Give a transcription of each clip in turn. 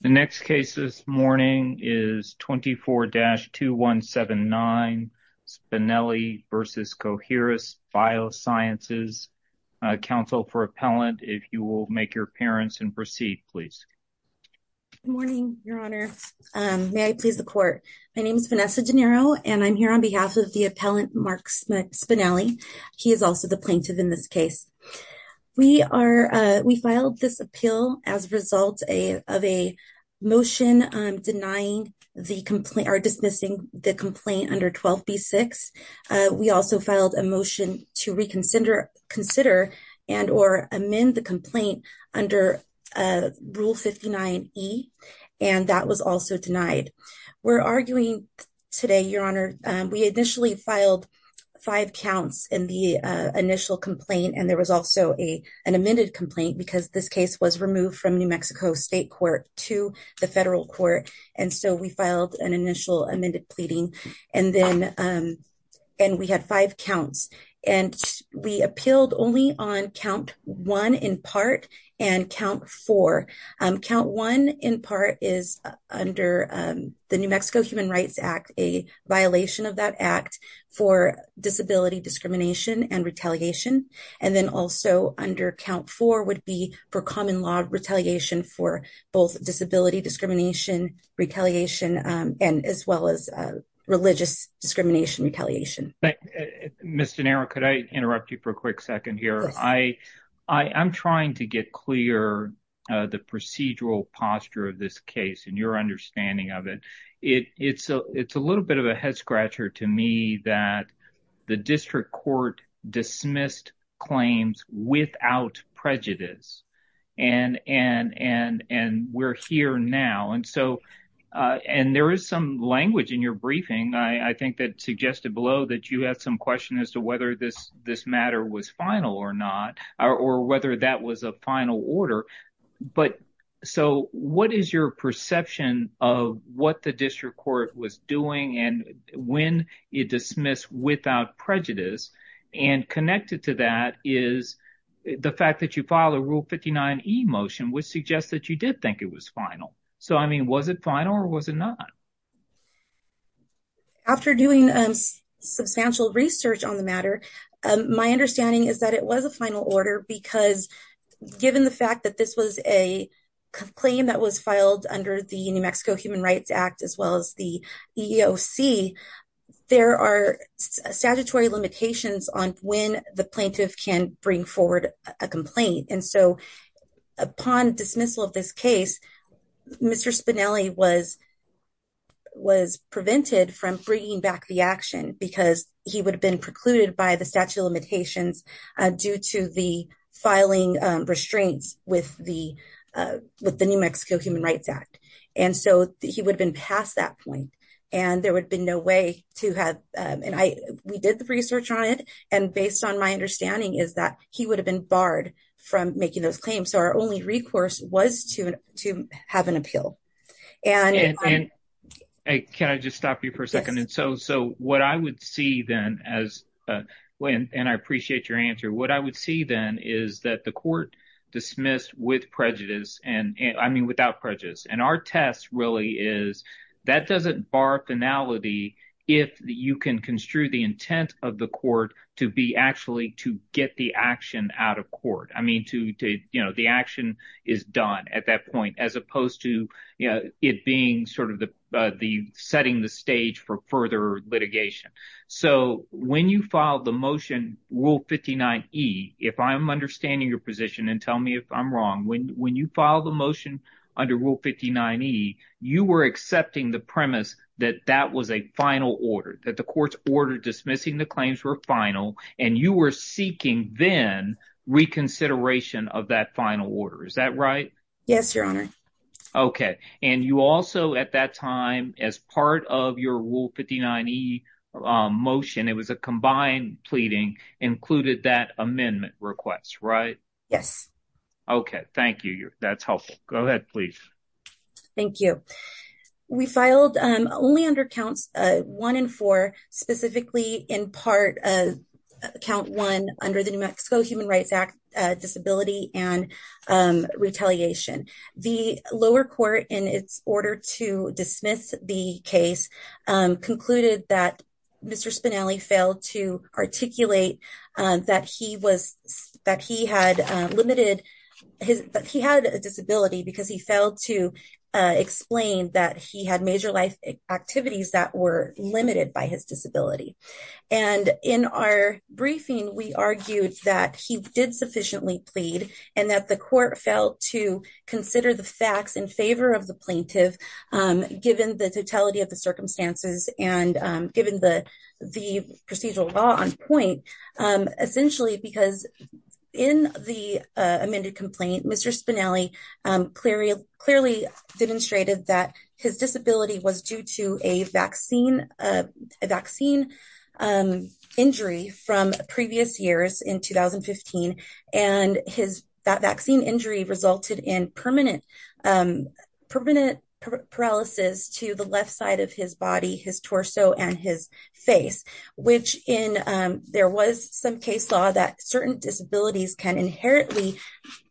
The next case this morning is 24-2179 Spinelli v. Coherus Biosciences. Counsel for Appellant, if you will make your appearance and proceed, please. Good morning, Your Honor. May I please the court? My name is Vanessa DeNiro and I'm here on behalf of the Appellant Mark Spinelli. He is also the plaintiff in this case. We filed this appeal as a result of a motion denying the complaint or dismissing the complaint under 12b-6. We also filed a motion to reconsider and or amend the complaint under rule 59e and that was also denied. We're arguing today, Your Honor, we initially filed five counts in the initial complaint and there was also a an amended complaint because this case was removed from New Mexico State Court to the federal court and so we filed an initial amended pleading and then and we had five counts and we appealed only on count one in part and count four. Count one in part is under the New Mexico Human Rights Act, a violation of that act for disability discrimination and retaliation and then also under count four would be for common law retaliation for both disability discrimination, retaliation and as well as religious discrimination retaliation. Ms. DeNiro, could I interrupt you for a quick second here? I'm trying to get clear the procedural posture of this case and your understanding of it. It's a little bit of a court dismissed claims without prejudice and we're here now and so and there is some language in your briefing I think that suggested below that you had some question as to whether this this matter was final or not or whether that was a final order but so what is your perception of what the district court was doing and when it dismissed without prejudice and connected to that is the fact that you filed a rule 59e motion which suggests that you did think it was final. So I mean was it final or was it not? After doing substantial research on the matter my understanding is that it was a final order because given the fact that this was a claim that was filed under the New Mexico Human Rights Act as well as the EEOC there are statutory limitations on when the plaintiff can bring forward a complaint and so upon dismissal of this case Mr. Spinelli was was prevented from bringing back the action because he would have been with the New Mexico Human Rights Act and so he would have been past that point and there would be no way to have and I we did the research on it and based on my understanding is that he would have been barred from making those claims so our only recourse was to to have an appeal and can I just stop you for a second and so so what I would see then as when and I appreciate your what I would see then is that the court dismissed with prejudice and I mean without prejudice and our test really is that doesn't bar finality if you can construe the intent of the court to be actually to get the action out of court I mean to to you know the action is done at that point as opposed to you know it being sort of the the setting the stage for further litigation so when you filed the motion rule 59e if I'm understanding your position and tell me if I'm wrong when when you file the motion under rule 59e you were accepting the premise that that was a final order that the court's order dismissing the claims were final and you were seeking then reconsideration of that final order is that right yes your honor okay and you also at that time as part of your rule 59e motion it was a combined pleading included that amendment request right yes okay thank you that's helpful go ahead please thank you we filed only under counts one and four specifically in part count one under the New Mexico Human Rights Act disability and retaliation the lower court in its order to dismiss the case concluded that Mr. Spinelli failed to articulate that he was that he had limited his but he had a disability because he failed to explain that he had major life activities that were limited by his disability and in our briefing we argued that he did sufficiently plead and that the court felt to consider the facts in favor of the plaintiff given the totality of the circumstances and given the procedural law on point essentially because in the amended complaint Mr. Spinelli clearly demonstrated that his disability was due to a vaccine a vaccine injury from previous years in 2015 and his that vaccine injury resulted in permanent permanent paralysis to the left side of his body his torso and his face which in there was some case law that certain disabilities can inherently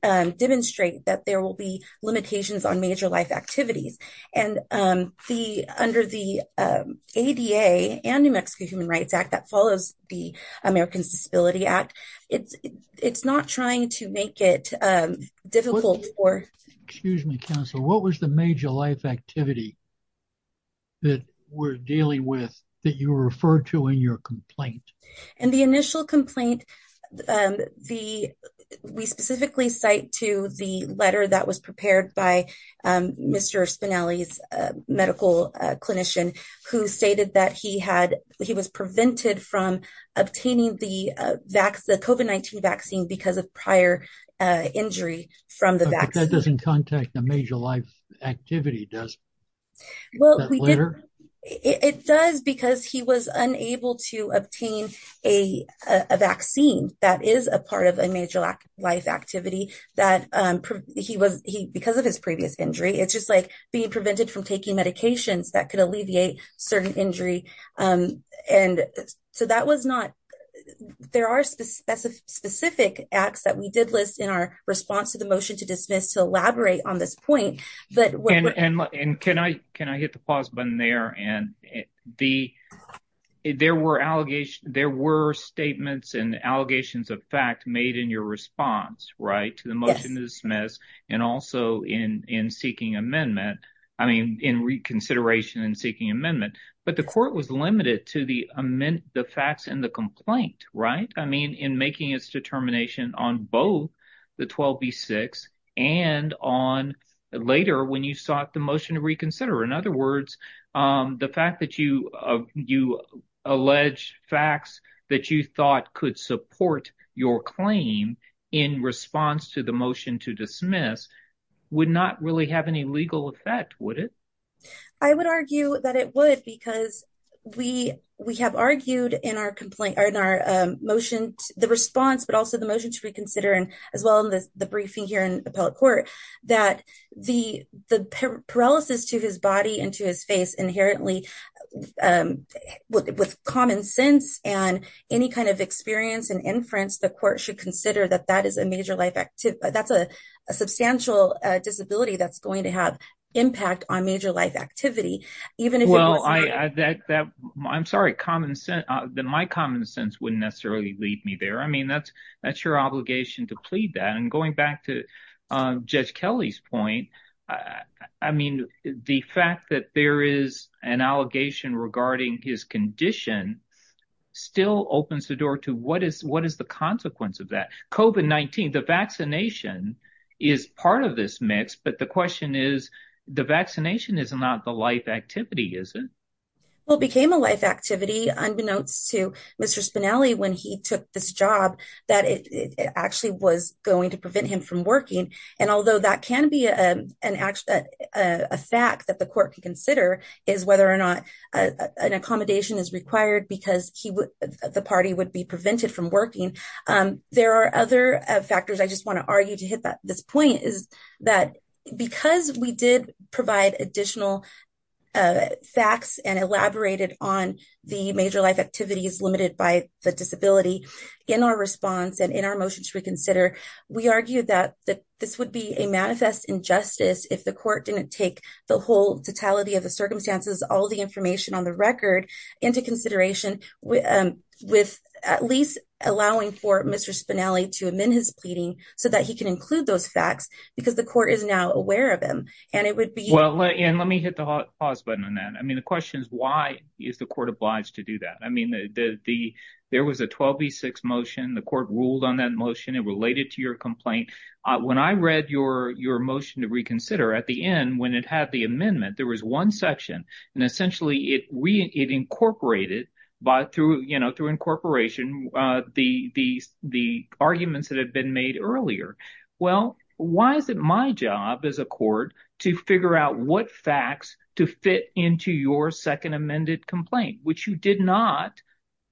demonstrate that there will be limitations on major life activities and the under the ADA and New Mexico Human Rights Act that follows the Americans Disability Act it's it's not trying to make it difficult for excuse me counsel what was the major life activity that we're dealing with that you referred to in your complaint and the initial complaint um the we specifically cite to the letter that was prepared by um Mr. Spinelli's medical clinician who stated that he had he was prevented from obtaining the vaccine the COVID-19 vaccine because of prior uh injury from the vaccine doesn't contact the major life activity does well we did it does because he was unable to obtain a a vaccine that is a part of a major life activity that um he was he because of his previous injury it's just like being prevented from taking medications that could alleviate certain injury um and so that was not there are specific specific acts that we did list in our response to the motion to dismiss to on this point but and can I can I hit the pause button there and the there were allegations there were statements and allegations of fact made in your response right to the motion to dismiss and also in in seeking amendment I mean in reconsideration and seeking amendment but the court was limited to the amend the facts in the complaint right I mean in making its determination on both the 12b6 and on later when you sought the motion to reconsider in other words um the fact that you uh you alleged facts that you thought could support your claim in response to the motion to dismiss would not really have any legal effect would it I would argue that it would because we we have argued in our complaint or in our motion the response but also the motion to reconsider and as well as the briefing here in appellate court that the the paralysis to his body and to his face inherently um with common sense and any kind of experience and inference the court should consider that that is a major life activity that's a substantial uh disability that's going to have impact on major life activity even if well I I that that I'm sorry common sense uh then my common sense wouldn't necessarily leave me there I mean that's that's your obligation to plead that and going back to uh Judge Kelly's point I I mean the fact that there is an allegation regarding his condition still opens the door to what is what is the consequence of that COVID-19 the vaccination is part of this mix but the question is the vaccination is not the life activity is it well became a life activity unbeknownst to Mr. Spinelli when he took this job that it actually was going to prevent him from working and although that can be a an act a fact that the court can consider is whether or not an accommodation is required because he would the party would be prevented from working um there are other factors I just want to argue to hit that this point is that because we did provide additional facts and elaborated on the major life activities limited by the disability in our response and in our motions reconsider we argued that that this would be a manifest injustice if the court didn't take the whole totality of the circumstances all the information on the record into consideration with at least allowing for Mr. Spinelli to amend his pleading so that he can include those facts because the court is now aware of him and it would be well and let me hit the pause button on that I mean the question is why is the court obliged to do that I mean the the there was a 12v6 motion the court ruled on that motion it related to your complaint when I read your your motion to reconsider at the end when it had the amendment there was one section and essentially it we it incorporated by through you know through incorporation uh the the the arguments that had been made earlier well why is it my job as a court to figure out what facts to fit into your second amended complaint which you did not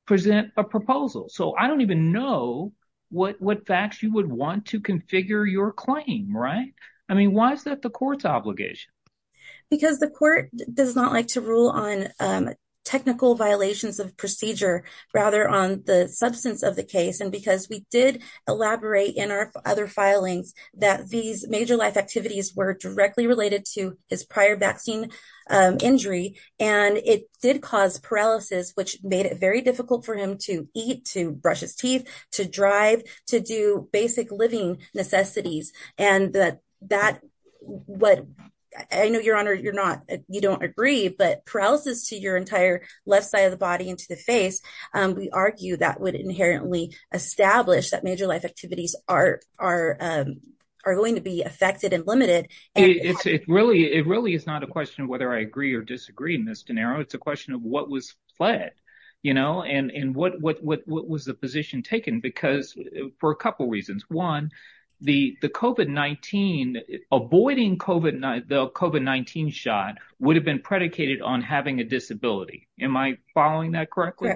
present a proposal so I don't even know what what facts you would want to figure your claim right I mean why is that the court's obligation because the court does not like to rule on technical violations of procedure rather on the substance of the case and because we did elaborate in our other filings that these major life activities were directly related to his prior vaccine injury and it did cause paralysis which made it very difficult for him to eat to brush his teeth to drive to do basic living necessities and that that what I know your honor you're not you don't agree but paralysis to your entire left side of the body into the face um we argue that would inherently establish that major life activities are are um are going to be affected and limited it's it really it really is not a question of whether I agree or disagree in it's a question of what was fled you know and and what what what was the position taken because for a couple reasons one the the COVID-19 avoiding COVID-19 shot would have been predicated on having a disability am I following that correctly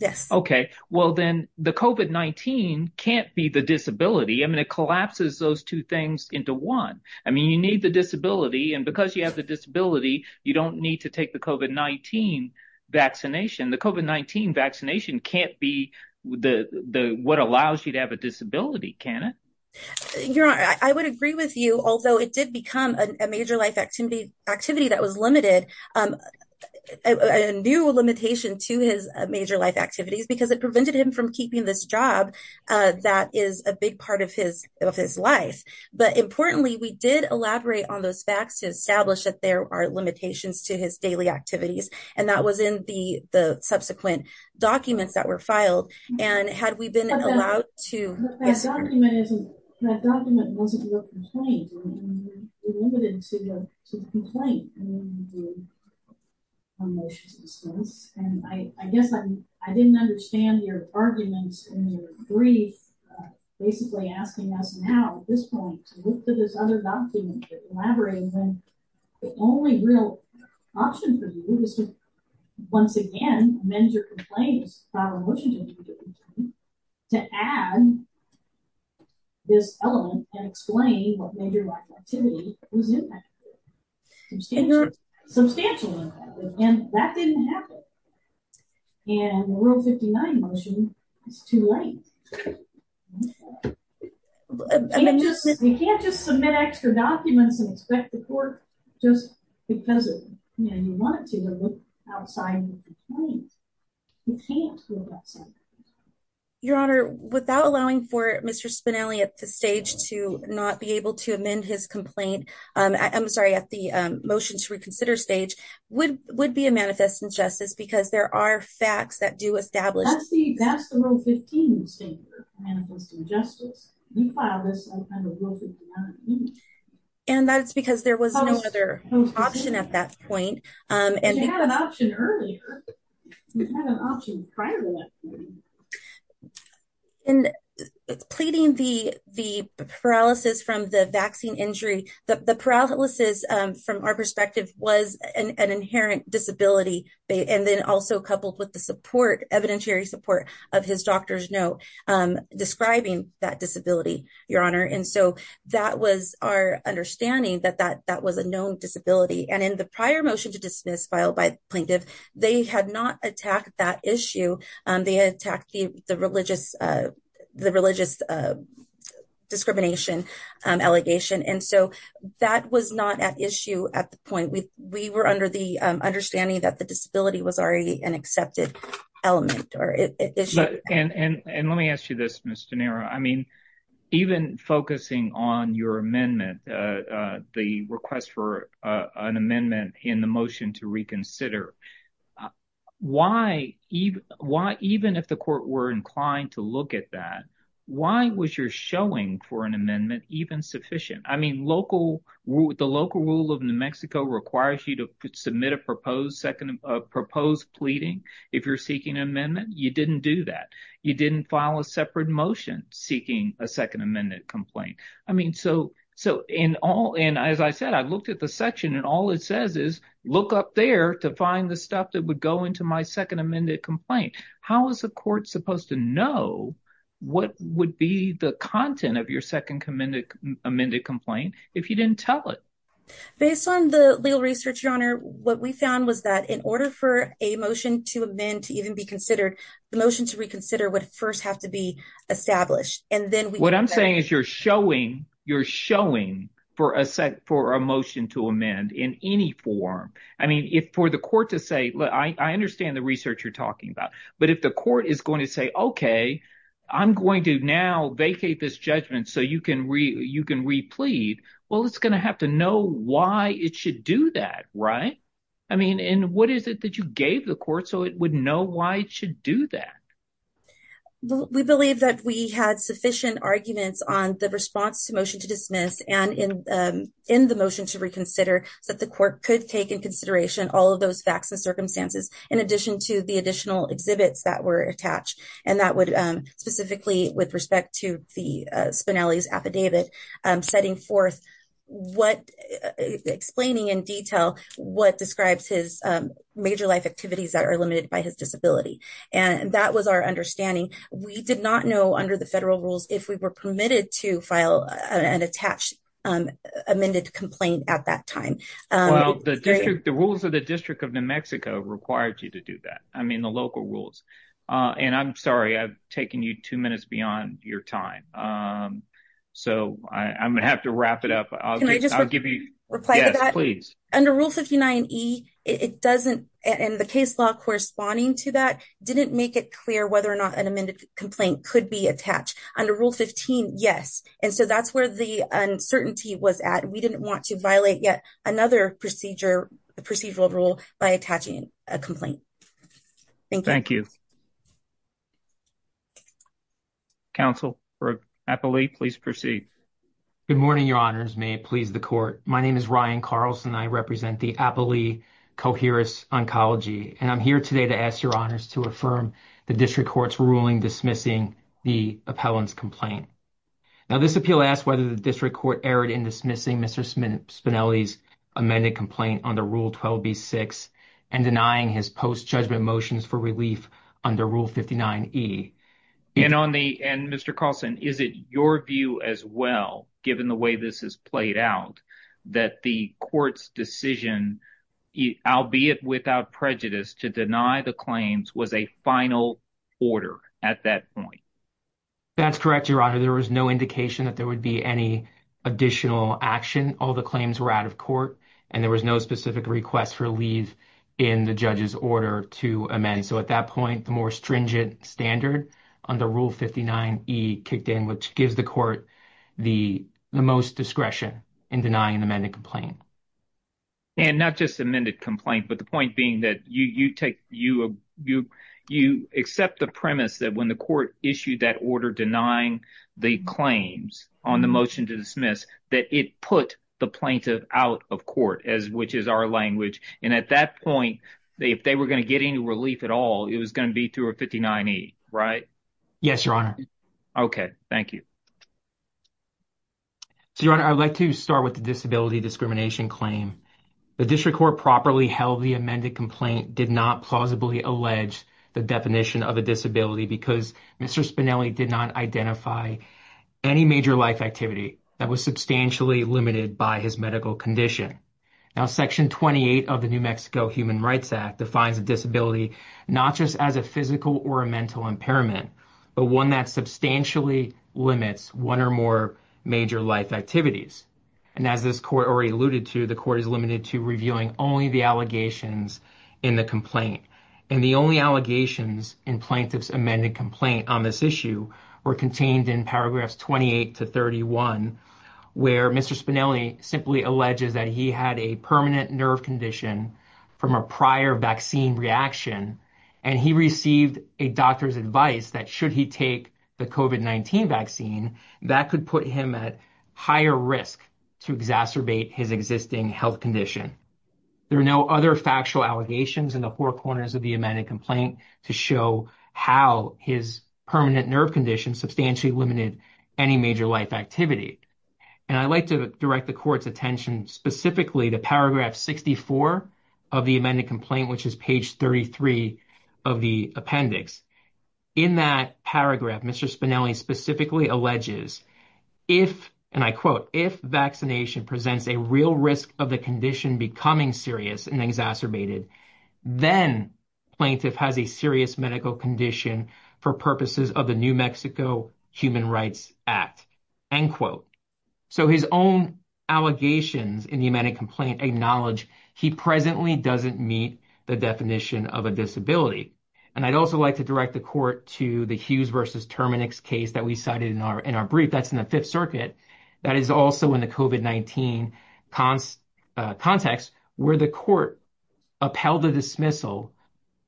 yes okay well then the COVID-19 can't be the disability I mean it collapses those two things into one I mean you need the and because you have the disability you don't need to take the COVID-19 vaccination the COVID-19 vaccination can't be the the what allows you to have a disability can it your honor I would agree with you although it did become a major life activity activity that was limited um a new limitation to his major life activities because it prevented him from keeping this job uh that is a facts to establish that there are limitations to his daily activities and that was in the the subsequent documents that were filed and had we been allowed to that document wasn't your complaint limited to the complaint and I guess I didn't understand your arguments and your grief basically asking us now at this point to look to this other document that elaborates and the only real option for you is to once again mend your complaints to add this element and explain what major life activity was in that and the rule 59 motion is too late you can't just submit extra documents and expect the court just because you know you want it to look outside the complaint you can't your honor without allowing for Mr. Spinelli at the stage to not be able to amend his complaint um I'm sorry at the um motion to reconsider stage would would be a manifest injustice because there are facts that do establish that's the that's the rule 15 statement manifesting justice you file this and that's because there was no other option at that point um and you had an option earlier you had an option prior to that and pleading the the paralysis from the vaccine injury the paralysis um from our perspective was an inherent disability and then also coupled with the support evidentiary support of his doctor's note um describing that disability your honor and so that was our understanding that that that was a known disability and in the prior motion to dismiss filed by plaintiff they had not attacked that issue um they attacked the the religious uh the religious uh discrimination um allegation and so that was not at issue at the point we we were under the understanding that the disability was already an accepted element or issue and and let me ask you this miss denaro I mean even focusing on your amendment uh uh the request for uh an amendment in the motion to reconsider uh why even why even if the court were inclined to look at that why was your showing for an amendment even sufficient I mean local with the local rule of New Mexico requires you to submit a proposed second proposed pleading if you're seeking an amendment you didn't do that you didn't file a separate motion seeking a second amendment complaint I mean so so in all and as I said I looked at the section and all it says is look up there to find the stuff that would go into my second amended complaint how is the court supposed to know what would be the content of your second amended amended complaint if you didn't tell it based on the legal research your honor what we found was that in order for a motion to amend to even be considered the motion to reconsider would first have to be established and then what I'm saying is you're showing you're showing for a set for a motion to amend in any form I mean if for the court to say look I understand the research you're talking about but if the court is going to say okay I'm going to now vacate this judgment so you can re you can replete well it's going to have to know why it should do that right I mean and what is it that you gave the court so it would know why it should do that we believe that we had sufficient arguments on the response to motion to dismiss and in in the motion to reconsider so that the court could take in consideration all of those facts and circumstances in addition to the additional exhibits that were attached and that would specifically with respect to the Spinelli's affidavit setting forth what explaining in detail what describes his major life activities that are limited by his disability and that was our understanding we did not know under the federal rules if we were permitted to file an attached amended complaint at that time well the district the rules of the district of New Mexico required you to do that I mean the local rules uh and I'm sorry I've taken you two minutes beyond your time um so I'm gonna have to wrap it up I'll just I'll give you reply please under rule 59e it doesn't and the case law corresponding to that didn't make it clear whether or not an amended complaint could be attached under rule 15 yes and so that's where the uncertainty was at we didn't want to violate yet another procedure the procedural rule by attaching a complaint thank you thank you counsel for appellee please proceed good morning your honors may it please the court my name is Carlson I represent the appellee coherence oncology and I'm here today to ask your honors to affirm the district court's ruling dismissing the appellant's complaint now this appeal asks whether the district court erred in dismissing Mr. Spinelli's amended complaint under rule 12b6 and denying his post judgment motions for relief under rule 59e and on the and Mr. Carlson is it as well given the way this has played out that the court's decision albeit without prejudice to deny the claims was a final order at that point that's correct your honor there was no indication that there would be any additional action all the claims were out of court and there was no specific request for leave in the judge's order to amend so at that point the more stringent standard under rule 59e kicked in which gives the court the the most discretion in denying an amended complaint and not just amended complaint but the point being that you you take you you you accept the premise that when the court issued that order denying the claims on the motion to dismiss that it put the plaintiff out of court as which is our language and at that point they if any relief at all it was going to be to a 59e right yes your honor okay thank you so your honor i would like to start with the disability discrimination claim the district court properly held the amended complaint did not plausibly allege the definition of a disability because Mr. Spinelli did not identify any major life activity that was substantially limited by his medical condition now section 28 of the New Mexico Human Rights Act defines a disability not just as a physical or a mental impairment but one that substantially limits one or more major life activities and as this court already alluded to the court is limited to reviewing only the allegations in the complaint and the only allegations in plaintiff's amended complaint on were contained in paragraphs 28 to 31 where Mr. Spinelli simply alleges that he had a permanent nerve condition from a prior vaccine reaction and he received a doctor's advice that should he take the COVID-19 vaccine that could put him at higher risk to exacerbate his existing health condition there are no other factual allegations in the four corners of the amended complaint to show how his permanent nerve condition substantially limited any major life activity and i'd like to direct the court's attention specifically to paragraph 64 of the amended complaint which is page 33 of the appendix in that paragraph Mr. Spinelli specifically alleges if and i quote if vaccination presents a real risk of the condition becoming serious and exacerbated then plaintiff has a serious medical condition for purposes of the New Mexico Human Rights Act end quote so his own allegations in the amended complaint acknowledge he presently doesn't meet the definition of a disability and i'd also like to direct the court to the Hughes versus Terminix case that we cited in our in our brief that's in the fifth circuit that is also in the COVID-19 context where the court upheld the dismissal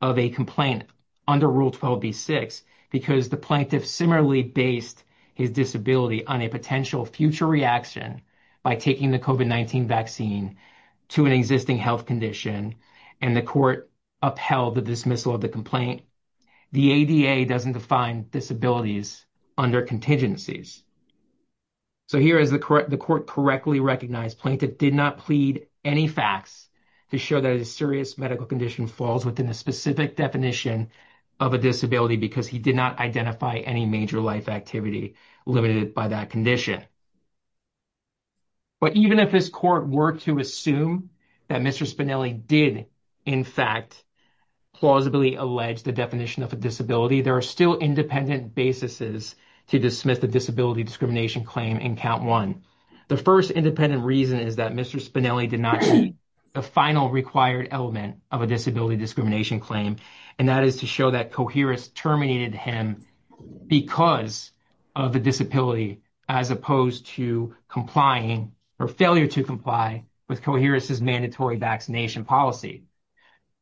of a complaint under rule 12b6 because the plaintiff similarly based his disability on a potential future reaction by taking the COVID-19 vaccine to an existing health condition and the court upheld the dismissal of the complaint the ADA doesn't define disabilities under contingencies so here is the correct the court correctly recognized plaintiff did not plead any facts to show that a serious medical condition falls within a specific definition of a disability because he did not identify any major life activity limited by that condition but even if his court were to assume that Mr. Spinelli did in fact plausibly allege the definition of a disability there are still independent basises to dismiss the disability discrimination claim in count one the first independent reason is that Mr. Spinelli did not the final required element of a disability discrimination claim and that is to show that coherence terminated him because of the disability as opposed to complying or failure to comply with coherence's mandatory vaccination policy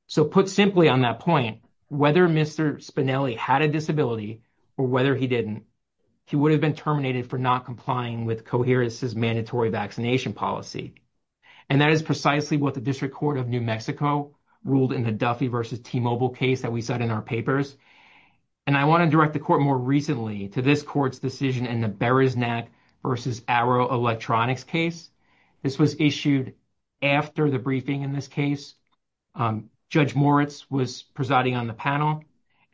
so put simply on that point whether Mr. Spinelli had a disability or whether he didn't he would have been terminated for not complying with coherence's mandatory vaccination policy and that is precisely what the district court of New Mexico ruled in the Duffy versus T-Mobile case that we said in our papers and I want to direct the court more recently to this court's decision in the Beresnac versus Arrow Electronics case this was issued after the briefing in this case Judge Moritz was presiding on the panel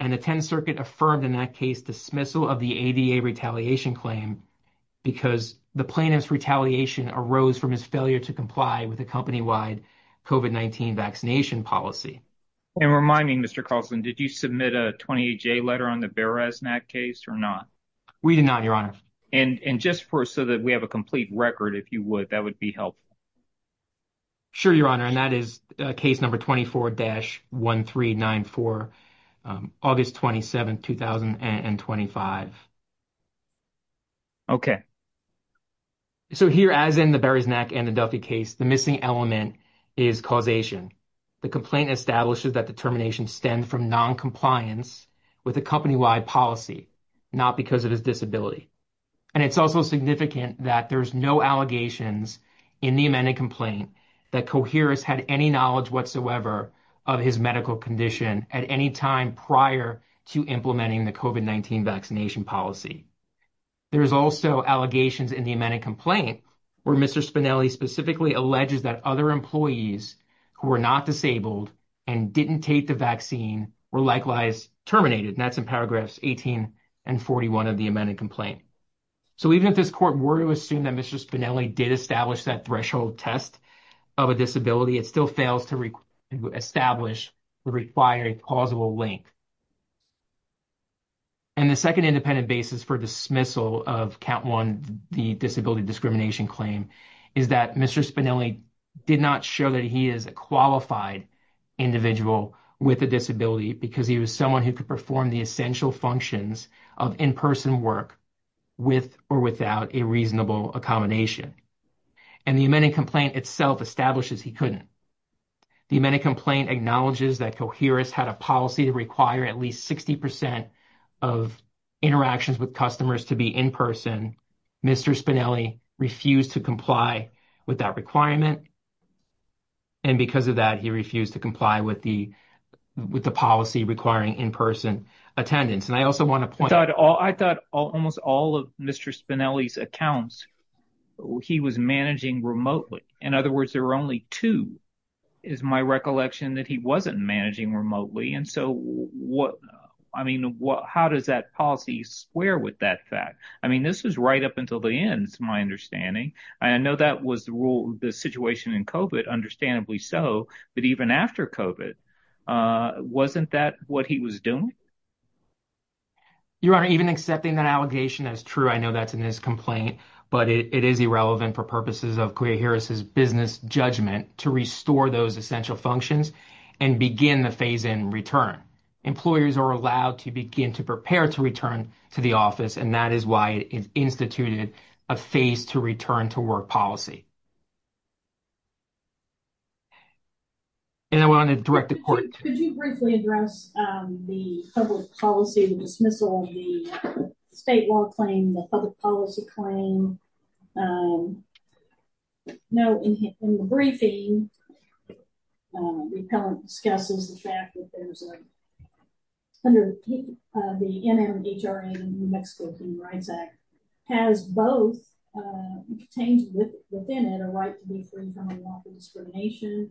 and the 10th circuit affirmed in that case dismissal of the ADA retaliation claim because the plaintiff's retaliation arose from his failure to comply with a company-wide COVID-19 vaccination policy and reminding Mr. Carlson did you submit a 28-J letter on the Beresnac case or not we did not your honor and and just for so that we have a case number 24-1394 August 27, 2025. Okay. So here as in the Beresnac and the Duffy case the missing element is causation the complaint establishes that the termination stemmed from non-compliance with a company-wide policy not because of his disability and it's also significant that there's no allegations in the amended complaint that coherence had any knowledge whatsoever of his medical condition at any time prior to implementing the COVID-19 vaccination policy there is also allegations in the amended complaint where Mr. Spinelli specifically alleges that other employees who were not disabled and didn't take the vaccine were likewise terminated and that's in paragraphs 18 and 41 of the amended complaint so even if this were to assume that Mr. Spinelli did establish that threshold test of a disability it still fails to establish the required plausible link and the second independent basis for dismissal of count one the disability discrimination claim is that Mr. Spinelli did not show that he is a qualified individual with a disability because he was someone who could perform the essential functions of in-person work with or without a reasonable accommodation and the amended complaint itself establishes he couldn't the amended complaint acknowledges that coherence had a policy to require at least 60 percent of interactions with customers to be in person Mr. Spinelli refused to comply with that requirement and because of that he refused to comply with the policy requiring in-person attendance and I also want to point out all I thought almost all of Mr. Spinelli's accounts he was managing remotely in other words there were only two is my recollection that he wasn't managing remotely and so what I mean how does that policy square with that fact I mean this was right up until the end it's my understanding I know that was the rule the situation in COVID understandably so but even after COVID wasn't that what he was doing your honor even accepting that allegation as true I know that's in this complaint but it is irrelevant for purposes of clear here is his business judgment to restore those essential functions and begin the phase in return employers are allowed to begin to prepare to return to the office and that is why it is instituted a phase to return to work policy and I want to direct the court could you briefly address the public policy the dismissal of the state law claim the public policy claim no in the briefing repellent discusses the fact that there's a under the NMHRA New Mexico Human Rights Act has both contained within it a right to be free from unlawful discrimination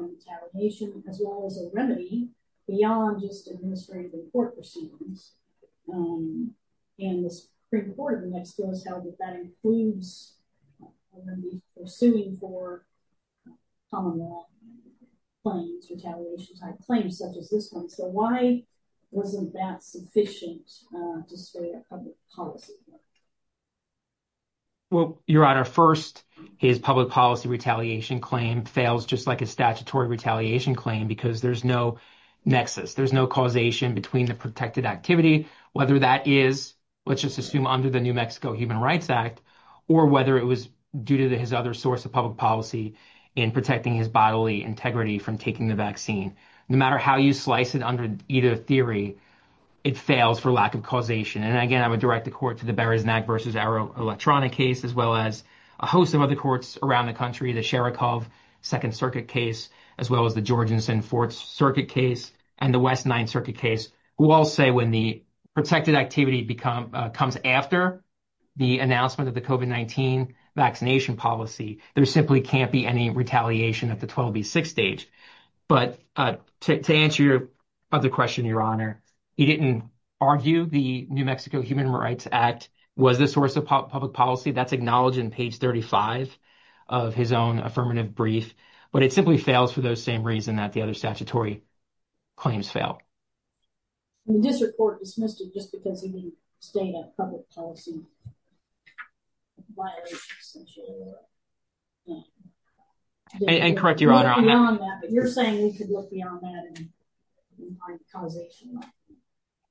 on retaliation as well as a remedy beyond just administrative report proceedings and the Supreme Court of New Mexico has held that that includes pursuing for common law claims retaliation type claims such as this one so why wasn't that sufficient display of public policy well your honor first his public policy retaliation claim fails just like a statutory retaliation claim because there's no nexus there's no causation between the protected activity whether that is let's just assume under the New Mexico Human Rights Act or whether it was due to his other source of public policy in protecting his bodily integrity from taking the vaccine no matter how you slice it under either theory it fails for lack of causation and again I would direct the court to the Beresnac versus Arrow electronic case as well as a host of other courts around the country the Sharikov Second Circuit case as well as the Georgians and Fourth Circuit case and the West Ninth Circuit case who all say when the protected activity become comes after the announcement of the COVID-19 vaccination policy there simply can't be any retaliation at the 12b6 stage but to answer your other question your honor he didn't argue the New Mexico Human Rights Act was the source of public policy that's acknowledged in page 35 of his own affirmative brief but it simply fails for those same reason that the other statutory claims fail this report dismissed it just because he stayed at public policy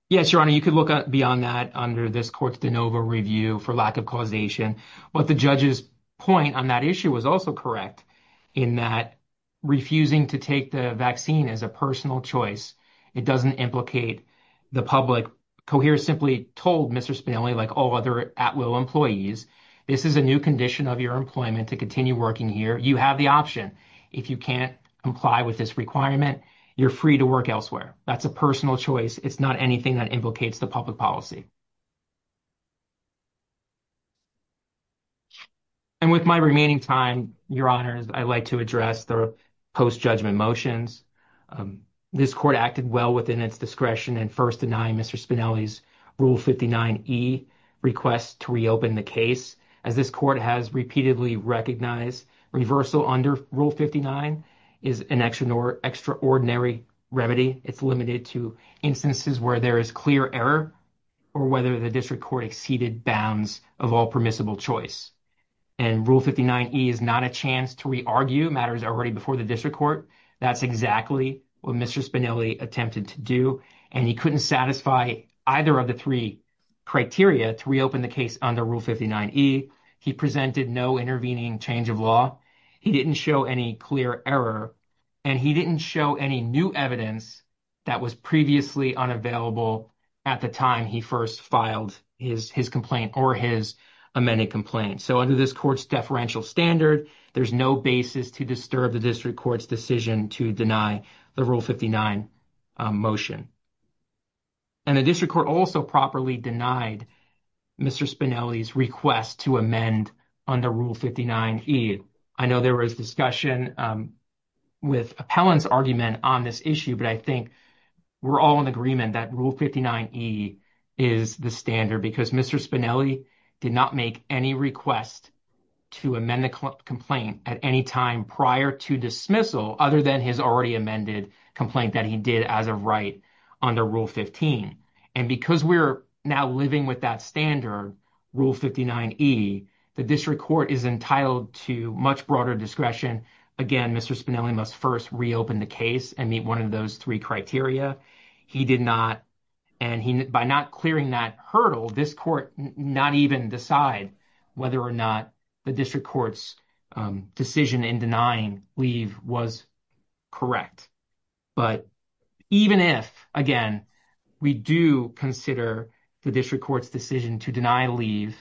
yes your honor you could look beyond that under this court's de novo review for lack of causation but the judge's point on that issue was also correct in that refusing to take the vaccine as a personal choice it doesn't implicate the public cohere simply told Mr. Spinelli like all other judges in the United States that it was a personal choice to take the vaccine at will employees this is a new condition of your employment to continue working here you have the option if you can't comply with this requirement you're free to work elsewhere that's a personal choice it's not anything that implicates the public policy and with my remaining time your honor I'd like to address the post-judgment motions this court acted well within its discretion and first denying Mr. Spinelli's rule 59e requests to reopen the case as this court has repeatedly recognized reversal under rule 59 is an extra extraordinary remedy it's limited to instances where there is clear error or whether the district court exceeded bounds of all permissible choice and rule 59e is not a chance to re-argue matters already before the district court that's exactly what Mr. Spinelli attempted to do and he couldn't satisfy either of the three criteria to reopen the case under rule 59e he presented no intervening change of law he didn't show any clear error and he didn't show any new evidence that was previously unavailable at the time he first filed his his complaint or his amended complaint so under this court's standard there's no basis to disturb the district court's decision to deny the rule 59 motion and the district court also properly denied Mr. Spinelli's request to amend under rule 59e I know there was discussion with appellant's argument on this issue but I think we're all in agreement that rule 59e is the standard because Mr. Spinelli did not make any request to amend the complaint at any time prior to dismissal other than his already amended complaint that he did as a right under rule 15 and because we're now living with that standard rule 59e the district court is entitled to much broader discretion again Mr. Spinelli must first reopen the case and meet one of those three criteria he did not and he by not clearing that hurdle this court not even decide whether or not the district court's decision in denying leave was correct but even if again we do consider the district court's decision to deny leave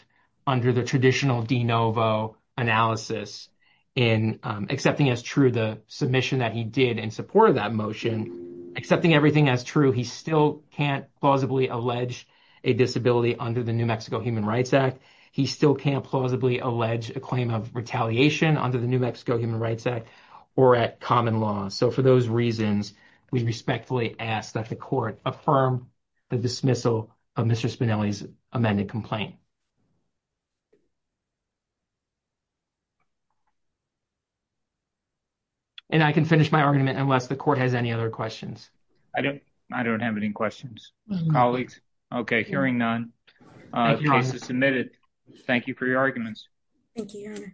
under the traditional de novo analysis in accepting as true the submission that he did in support of that motion accepting everything as true he still can't plausibly allege a disability under the New Mexico Human Rights Act he still can't plausibly allege a claim of retaliation under the New Mexico Human Rights Act or at common law so for those reasons we respectfully ask that the court affirm the dismissal of Mr. Spinelli's amended complaint and I can finish my argument unless the court has any other questions I don't I don't have any questions colleagues okay hearing none case is submitted thank you for your arguments thank you